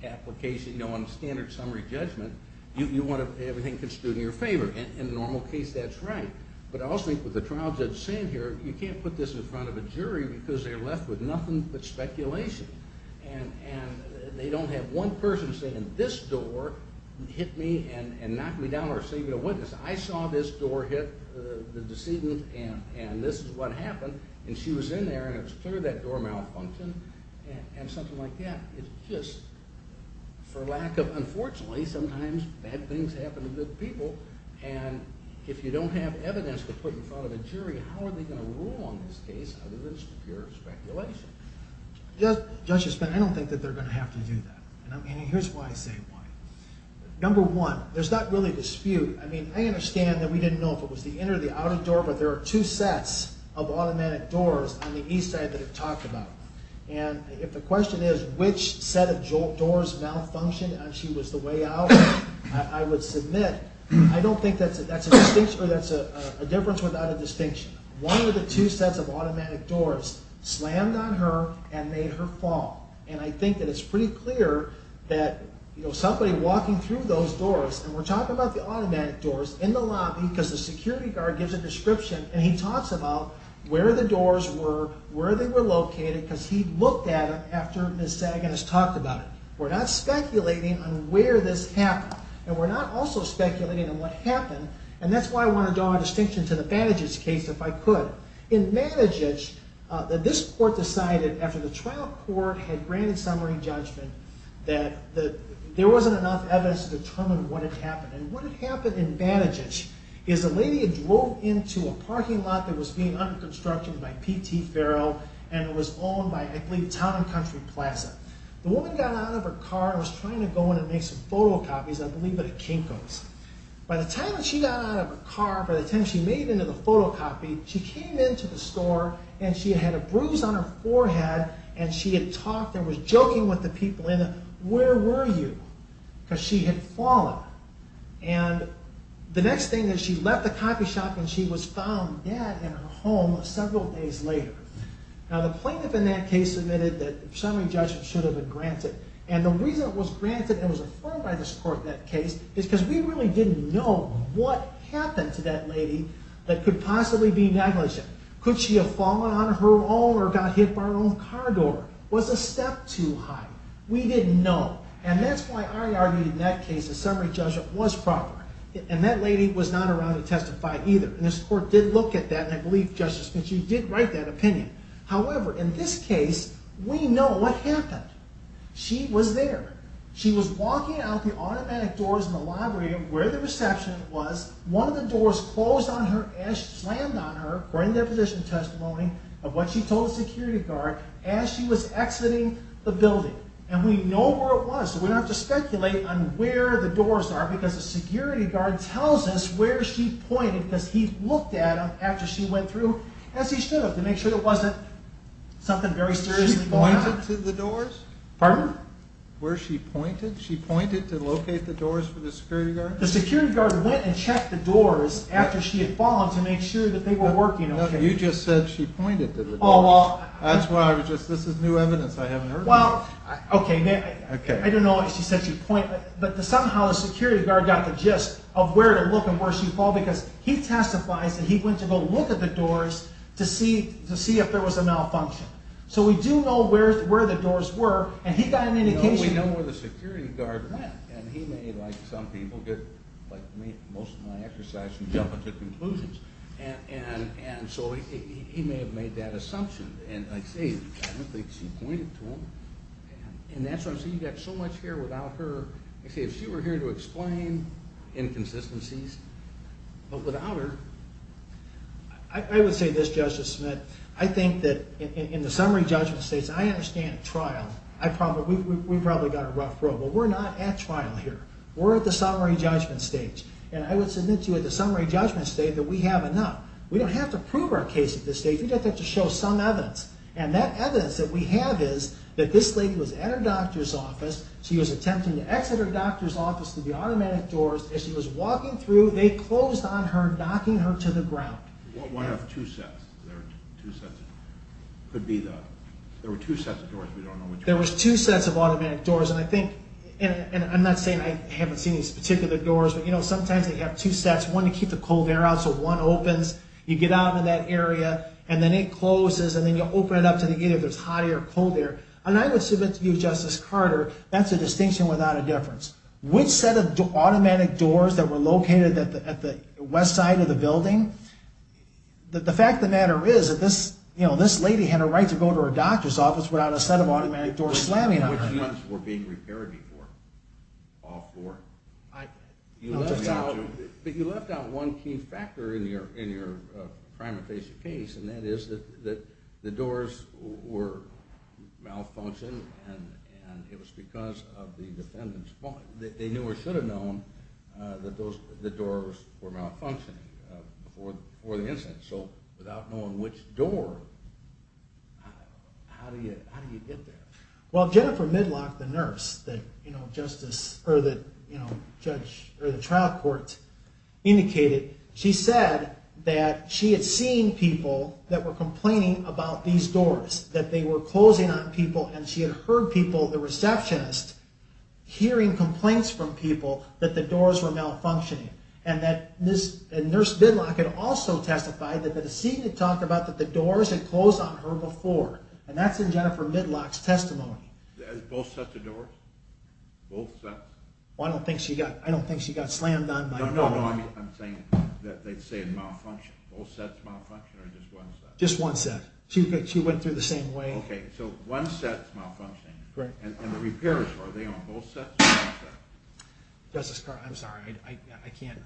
application. On a standard summary judgment, you want everything to constitute in your favor. In a normal case, that's right. But I also think with the trial judge saying here, you can't put this in front of a jury because they're left with nothing but speculation. And they don't have one person saying, this door hit me and knocked me down or saved a witness. I saw this door hit the decedent, and this is what happened. And she was in there, and it was clear that door malfunctioned, and something like that. It's just, for lack of... And if you don't have evidence to put in front of a jury, how are they going to rule on this case other than just pure speculation? Judge, I don't think that they're going to have to do that. And here's why I say why. Number one, there's not really a dispute. I mean, I understand that we didn't know if it was the inner or the outer door, but there are two sets of automatic doors on the east side that are talked about. And if the question is, which set of doors malfunctioned and she was the way out, I would submit, I don't think that's a difference without a distinction. One of the two sets of automatic doors slammed on her and made her fall. And I think that it's pretty clear that somebody walking through those doors, and we're talking about the automatic doors in the lobby because the security guard gives a description, and he talks about where the doors were, where they were located, because he looked at them after Ms. Sagan has talked about it. We're not speculating on where this happened, and we're not also speculating on what happened, and that's why I want to draw a distinction to the Banaghes case if I could. In Banaghes, this court decided after the trial court had granted summary judgment that there wasn't enough evidence to determine what had happened. And what had happened in Banaghes is a lady had drove into a parking lot that was being under construction by P.T. Farrell, and it was owned by, I believe, Town & Country Plaza. The woman got out of her car and was trying to go in and make some photocopies, I believe at a Kinko's. By the time that she got out of her car, by the time she made it into the photocopy, she came into the store, and she had a bruise on her forehead, and she had talked and was joking with the people in it, where were you? Because she had fallen. And the next thing is, she left the coffee shop, and she was found dead in her home several days later. Now, the plaintiff in that case admitted that summary judgment should have been granted. And the reason it was granted and was affirmed by this court in that case is because we really didn't know what happened to that lady that could possibly be negligent. Could she have fallen on her own or got hit by her own car door? Was the step too high? We didn't know. And that's why I argued in that case that summary judgment was proper. And that lady was not around to testify either. And this court did look at that, and I believe Justice Finchley did write that opinion. However, in this case, we know what happened. She was there. She was walking out the automatic doors in the library where the reception was. One of the doors closed on her as she slammed on her. We're in the deposition testimony of what she told the security guard as she was exiting the building. And we know where it was, so we don't have to speculate on where the doors are because the security guard tells us where she pointed because he looked at them after she went through as he should have to make sure it wasn't something very seriously going on. She pointed to the doors? Pardon? Where she pointed? She pointed to locate the doors for the security guard? The security guard went and checked the doors after she had fallen to make sure that they were working okay. You just said she pointed to the doors. That's why I was just... This is new evidence. Okay. I don't know why she said she pointed, but somehow the security guard got the gist of where to look and where she'd fall because he testifies that he went to go look at the doors to see if there was a malfunction. So we do know where the doors were and he got an indication. We know where the security guard went and he may, like some people, like most of my exercise, jump into conclusions. And so he may have made that assumption. And like I say, I don't think she pointed to them. And that's why I'm saying you've got so much here without her. Like I say, if she were here to explain inconsistencies, but without her... I would say this, Justice Smith. I think that in the summary judgment stage, and I understand trial. We've probably got a rough road, but we're not at trial here. We're at the summary judgment stage. And I would submit to you at the summary judgment stage that we have enough. We don't have to prove our case at this stage. We just have to show some evidence. And that evidence that we have is that this lady was at her doctor's office. She was attempting to exit her doctor's office through the automatic doors. As she was walking through, they closed on her, knocking her to the ground. Why have two sets? There were two sets of doors. We don't know which one. There were two sets of automatic doors. And I'm not saying I haven't seen these particular doors, but sometimes they have two sets. One to keep the cold air out, so one opens. You get out into that area, and then it closes, and then you open it up to see if there's hot air or cold air. And I would submit to you, Justice Carter, that's a distinction without a difference. Which set of automatic doors that were located at the west side of the building, the fact of the matter is that this lady had a right to go to her doctor's office without a set of automatic doors slamming on her. Which ones were being repaired before? All four? You left out one key factor in your primary case, and that is that the doors were malfunctioning, and it was because of the defendant's fault. They knew or should have known that the doors were malfunctioning before the incident. So without knowing which door, how do you get there? Well, Jennifer Midlock, the nurse, that, you know, Justice, or that, you know, the trial court indicated, she said that she had seen people that were complaining about these doors, that they were closing on people, and she had heard people, the receptionist, hearing complaints from people that the doors were malfunctioning. And that Nurse Midlock had also testified that the decedent had talked about that the doors had closed on her before. And that's in Jennifer Midlock's testimony. Both sets of doors? Both sets? I don't think she got slammed on by... No, no, no, I'm saying that they say it malfunctioned. Both sets malfunctioned or just one set? Just one set. She went through the same way. Okay, so one set's malfunctioning. And the repairs, are they on both sets or one set? Justice Carr, I'm sorry. I can't...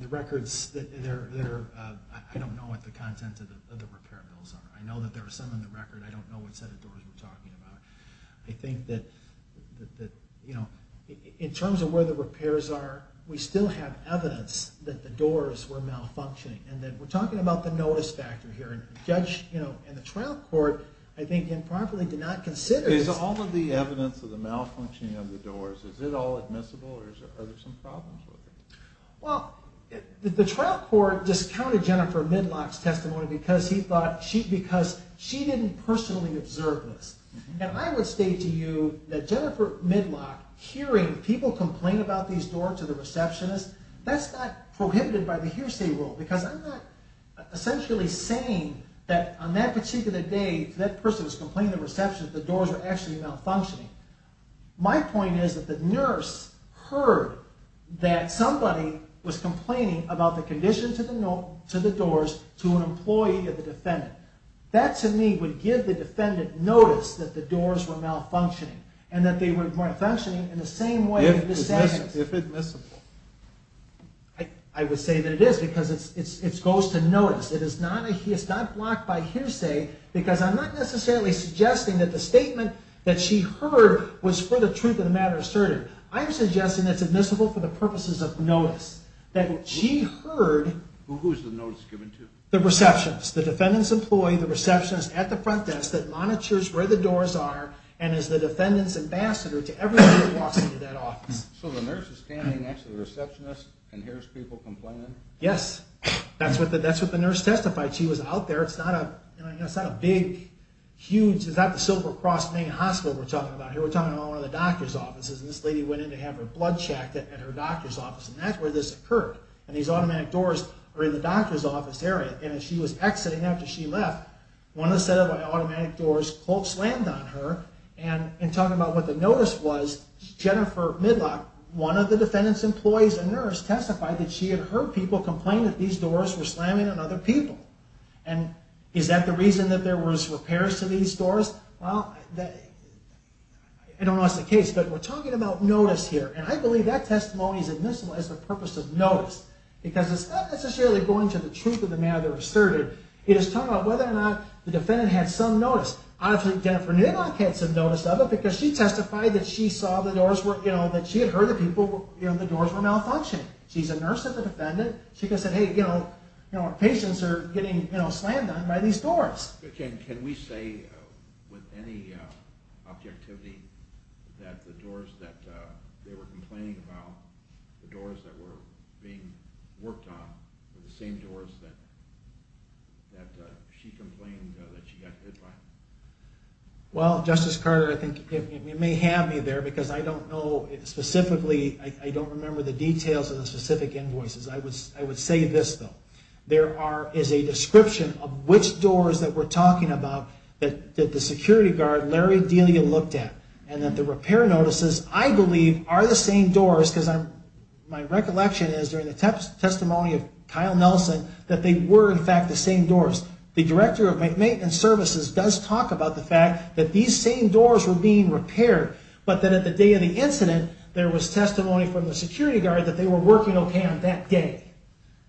The records, they're... I don't know what the content of the repair bills are. I know that there are some in the record. I don't know what set of doors we're talking about. I think that in terms of where the repairs are, we still have evidence that the doors were malfunctioning. And we're talking about the notice factor here. And the trial court, I think, improperly did not consider... Is all of the evidence of the malfunctioning of the doors, is it all admissible or are there some problems with it? Well, the trial court discounted Jennifer Midlock's testimony because she didn't personally observe this. And I would state to you that Jennifer Midlock hearing people complain about these doors to the receptionist, that's not prohibited by the hearsay rule because I'm not essentially saying that on that particular day, that person was complaining to the receptionist that the doors were actually malfunctioning. My point is that the nurse heard that somebody was complaining about the condition to the doors to an employee of the defendant. That, to me, would give the defendant notice that the doors were malfunctioning. And that they were malfunctioning in the same way in this sentence. If admissible. I would say that it is because it goes to notice. It is not blocked by hearsay because I'm not necessarily suggesting that the statement that she heard was for the truth of the matter asserted. I'm suggesting that it's admissible for the purposes of notice. That she heard... Who's the notice given to? The receptionist. The defendant's employee, the receptionist at the front desk that monitors where the doors are and is the defendant's ambassador to everybody that walks into that office. So the nurse is standing next to the receptionist and hears people complaining? Yes. That's what the nurse testified. She was out there. It's not a big, huge... It's not the Silver Cross Maine Hospital we're talking about here. We're talking about one of the doctor's offices. This lady went in to have her blood checked at her doctor's office. And that's where this occurred. And these automatic doors are in the doctor's office area. And as she was exiting after she left, one of the set of automatic doors slammed on her. And in talking about what the notice was, Jennifer Midlock, one of the defendant's employees and nurse testified that she had heard people complain that these doors were slamming on other people. And is that the reason that there was repairs to these doors? Well... I don't know if that's the case, but we're talking about notice here. And I believe that testimony is admissible as the purpose of notice. Because it's not necessarily going to the truth of the matter that was asserted. It is talking about whether or not the defendant had some notice. I don't think Jennifer Midlock had some notice of it, because she testified that she saw the doors were, you know, that she had heard that the doors were malfunctioning. She's a nurse and a defendant. She could have said, hey, you know, patients are getting slammed on by these doors. Can we say with any objectivity that the doors that they were complaining about, the doors that were being worked on were the same doors that she complained that she got hit by? Well, Justice Carter, I think you may have me there because I don't know specifically, I don't remember the details of the specific invoices. I would say this, though. There is a description of which doors that we're talking about that the security guard, Larry Delia, looked at. And that the repair notices, I believe, are the same doors, because my recollection is, during the testimony of Kyle Nelson, that they were, in fact, the same doors. The director of maintenance services does talk about the fact that these same doors were being repaired, but that at the day of the incident, there was testimony from the security guard that they were working okay on that day,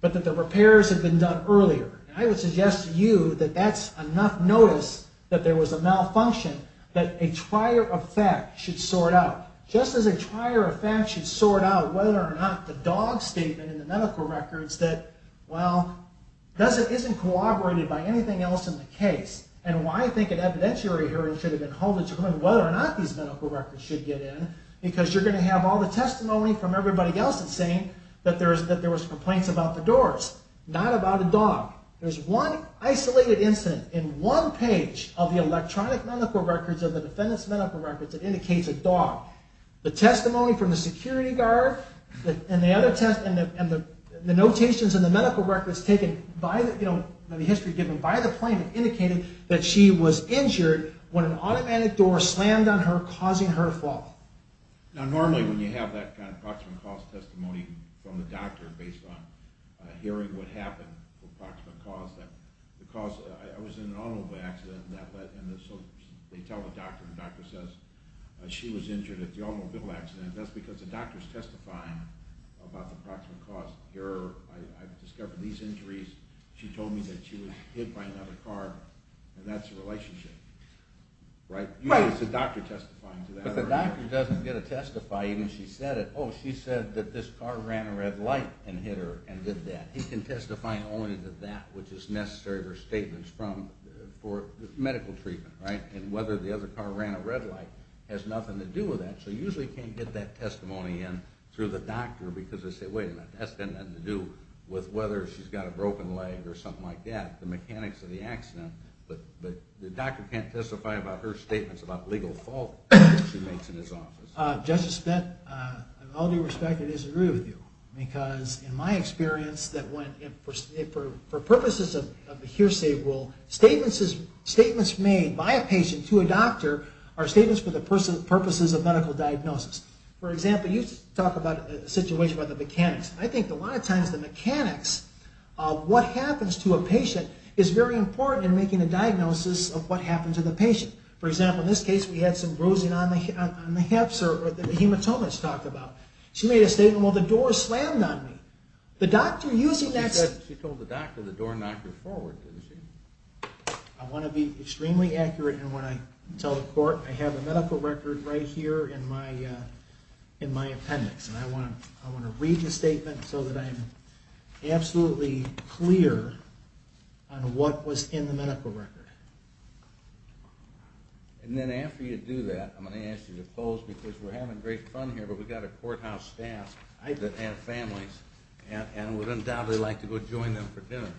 but that the repairs had been done earlier. I would suggest to you that that's enough notice that there was a malfunction that a trier of fact should sort out. Just as a trier of fact should sort out whether or not the dog statement in the medical records that, well, isn't corroborated by anything else in the case, and why I think an evidentiary hearing should have been held, it's whether or not these medical records should get in because you're going to have all the testimony from everybody else that's saying that there was complaints about the doors. Not about a dog. There's one isolated incident in one of the defendants' medical records that indicates a dog. The testimony from the security guard and the notations in the medical records taken by the plaintiff indicated that she was injured when an automatic door slammed on her, causing her to fall. Now normally when you have that approximate cause testimony from the doctor based on hearing what happened, approximate cause, I was in an automobile accident and so they tell the doctor and the doctor says she was injured at the automobile accident. That's because the doctor's testifying about the approximate cause. I've discovered these injuries. She told me that she was hit by another car and that's the relationship. Right? It's the doctor testifying to that. But the doctor doesn't get to testify even if she said it. Oh, she said that this car ran a red light and hit her and did that. He can testify only to that which is necessary for medical treatment, right? And whether the other car ran a red light has nothing to do with that. So you usually can't get that testimony in through the doctor because they say wait a minute, that's got nothing to do with whether she's got a broken leg or something like that, the mechanics of the accident. But the doctor can't testify about her statements about legal fault she makes in his office. Justice Spence, with all due respect, I disagree with you because in my experience, for purposes of hearsay rule, statements made by a patient to a doctor are statements for the purposes of medical diagnosis. For example, you talk about a situation about the mechanics. I think a lot of times the mechanics of what happens to a patient is very important in making a diagnosis of what happened to the patient. For example, in this case we had some bruising on the hips or the hematomas talked about. She made a statement, well the door slammed on me. The doctor using that... She told the doctor the door knocked her forward, didn't she? I want to be extremely accurate in what I tell the court. I have a medical record right here in my appendix. I want to read the statement so that I'm absolutely clear on what was in the medical record. And then after you do that, I'm going to ask you to close because we're having great fun here. We've got a courthouse staff that have families and would undoubtedly like to go join them for dinner.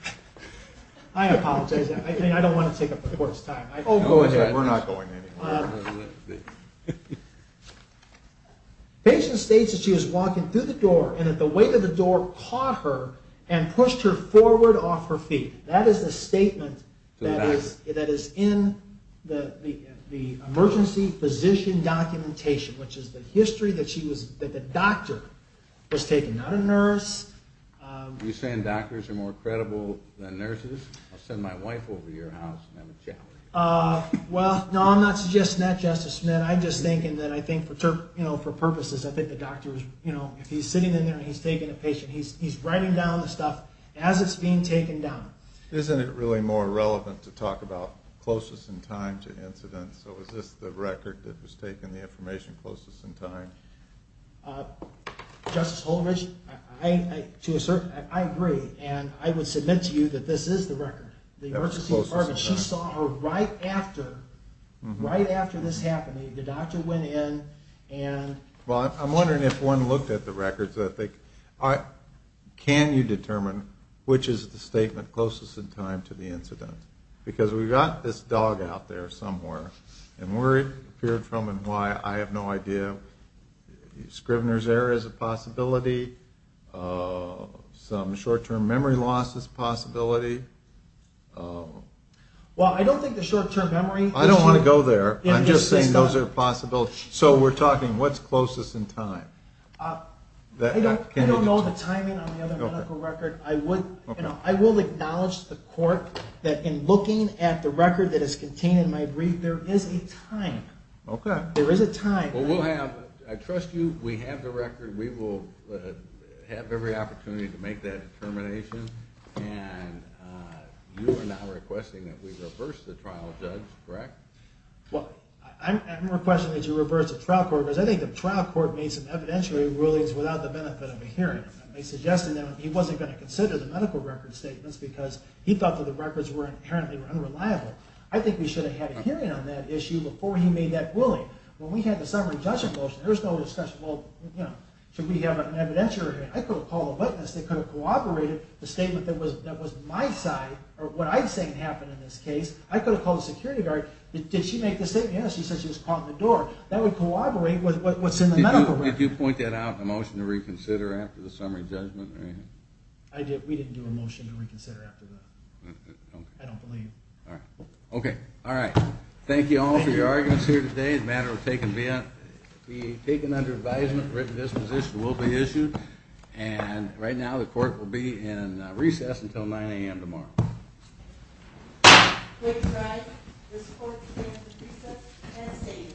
I apologize. I don't want to take up the court's time. We're not going anywhere. Patient states that she was walking through the door and that the weight of the door caught her and pushed her forward off her feet. That is the statement that is in the emergency physician documentation, which is the history that the doctor was taken. Not a nurse. You're saying doctors are more credible than nurses? I'll send my wife over to your house and have a chat with her. Well, no, I'm not suggesting that, Justice Smith. I'm just thinking that I think for purposes, I think the doctor if he's sitting in there and he's taking a patient, he's writing down the stuff as it's being taken down. Isn't it really more relevant to talk about closest in time to incidents? So is this the record that was taken? The information closest in time? Justice Holdridge, I agree. I would submit to you that this is the record. She saw her right after this happened. The doctor went in and Well, I'm wondering if one looked at the records. Can you determine which is the statement closest in time to the incident? Because we've got this dog out there somewhere. And where it appeared from and why, I have no idea. Scrivener's error is a possibility. Some short-term memory loss is a possibility. Well, I don't think the short-term memory I don't want to go there. I'm just saying those are possibilities. So we're talking what's closest in time? I don't know the timing on the other medical record. I will acknowledge the court that in looking at the record that is contained in my brief, there is a time. I trust you. We have the record. We will have every opportunity to make that determination. And you are not requesting that we reverse the trial, Judge, correct? Well, I'm requesting that you reverse the trial court. Because I think the trial court made some evidentiary rulings without the benefit of a hearing. Suggesting that he wasn't going to consider the medical record statements because he thought that the records were inherently unreliable. I think we should have had a hearing on that issue before he made that ruling. When we had the summary judgment motion, there was no discussion well, you know, should we have an evidentiary? I could have called a witness that could have corroborated the statement that was my side, or what I'm saying happened in this case. I could have called the security guard. Did she make the statement? Yes, she said she was caught in the door. That would corroborate with what's in the medical record. Did you point that out in the motion to reconsider after the summary judgment? We didn't do a motion to reconsider after that. I don't believe. Okay, alright. Thank you all for your arguments here today. The matter will be taken under advisement. A written disposition will be issued. And right now the court will be in recess until 9 a.m. tomorrow. Clerk's right. This court stands at recess and is stated.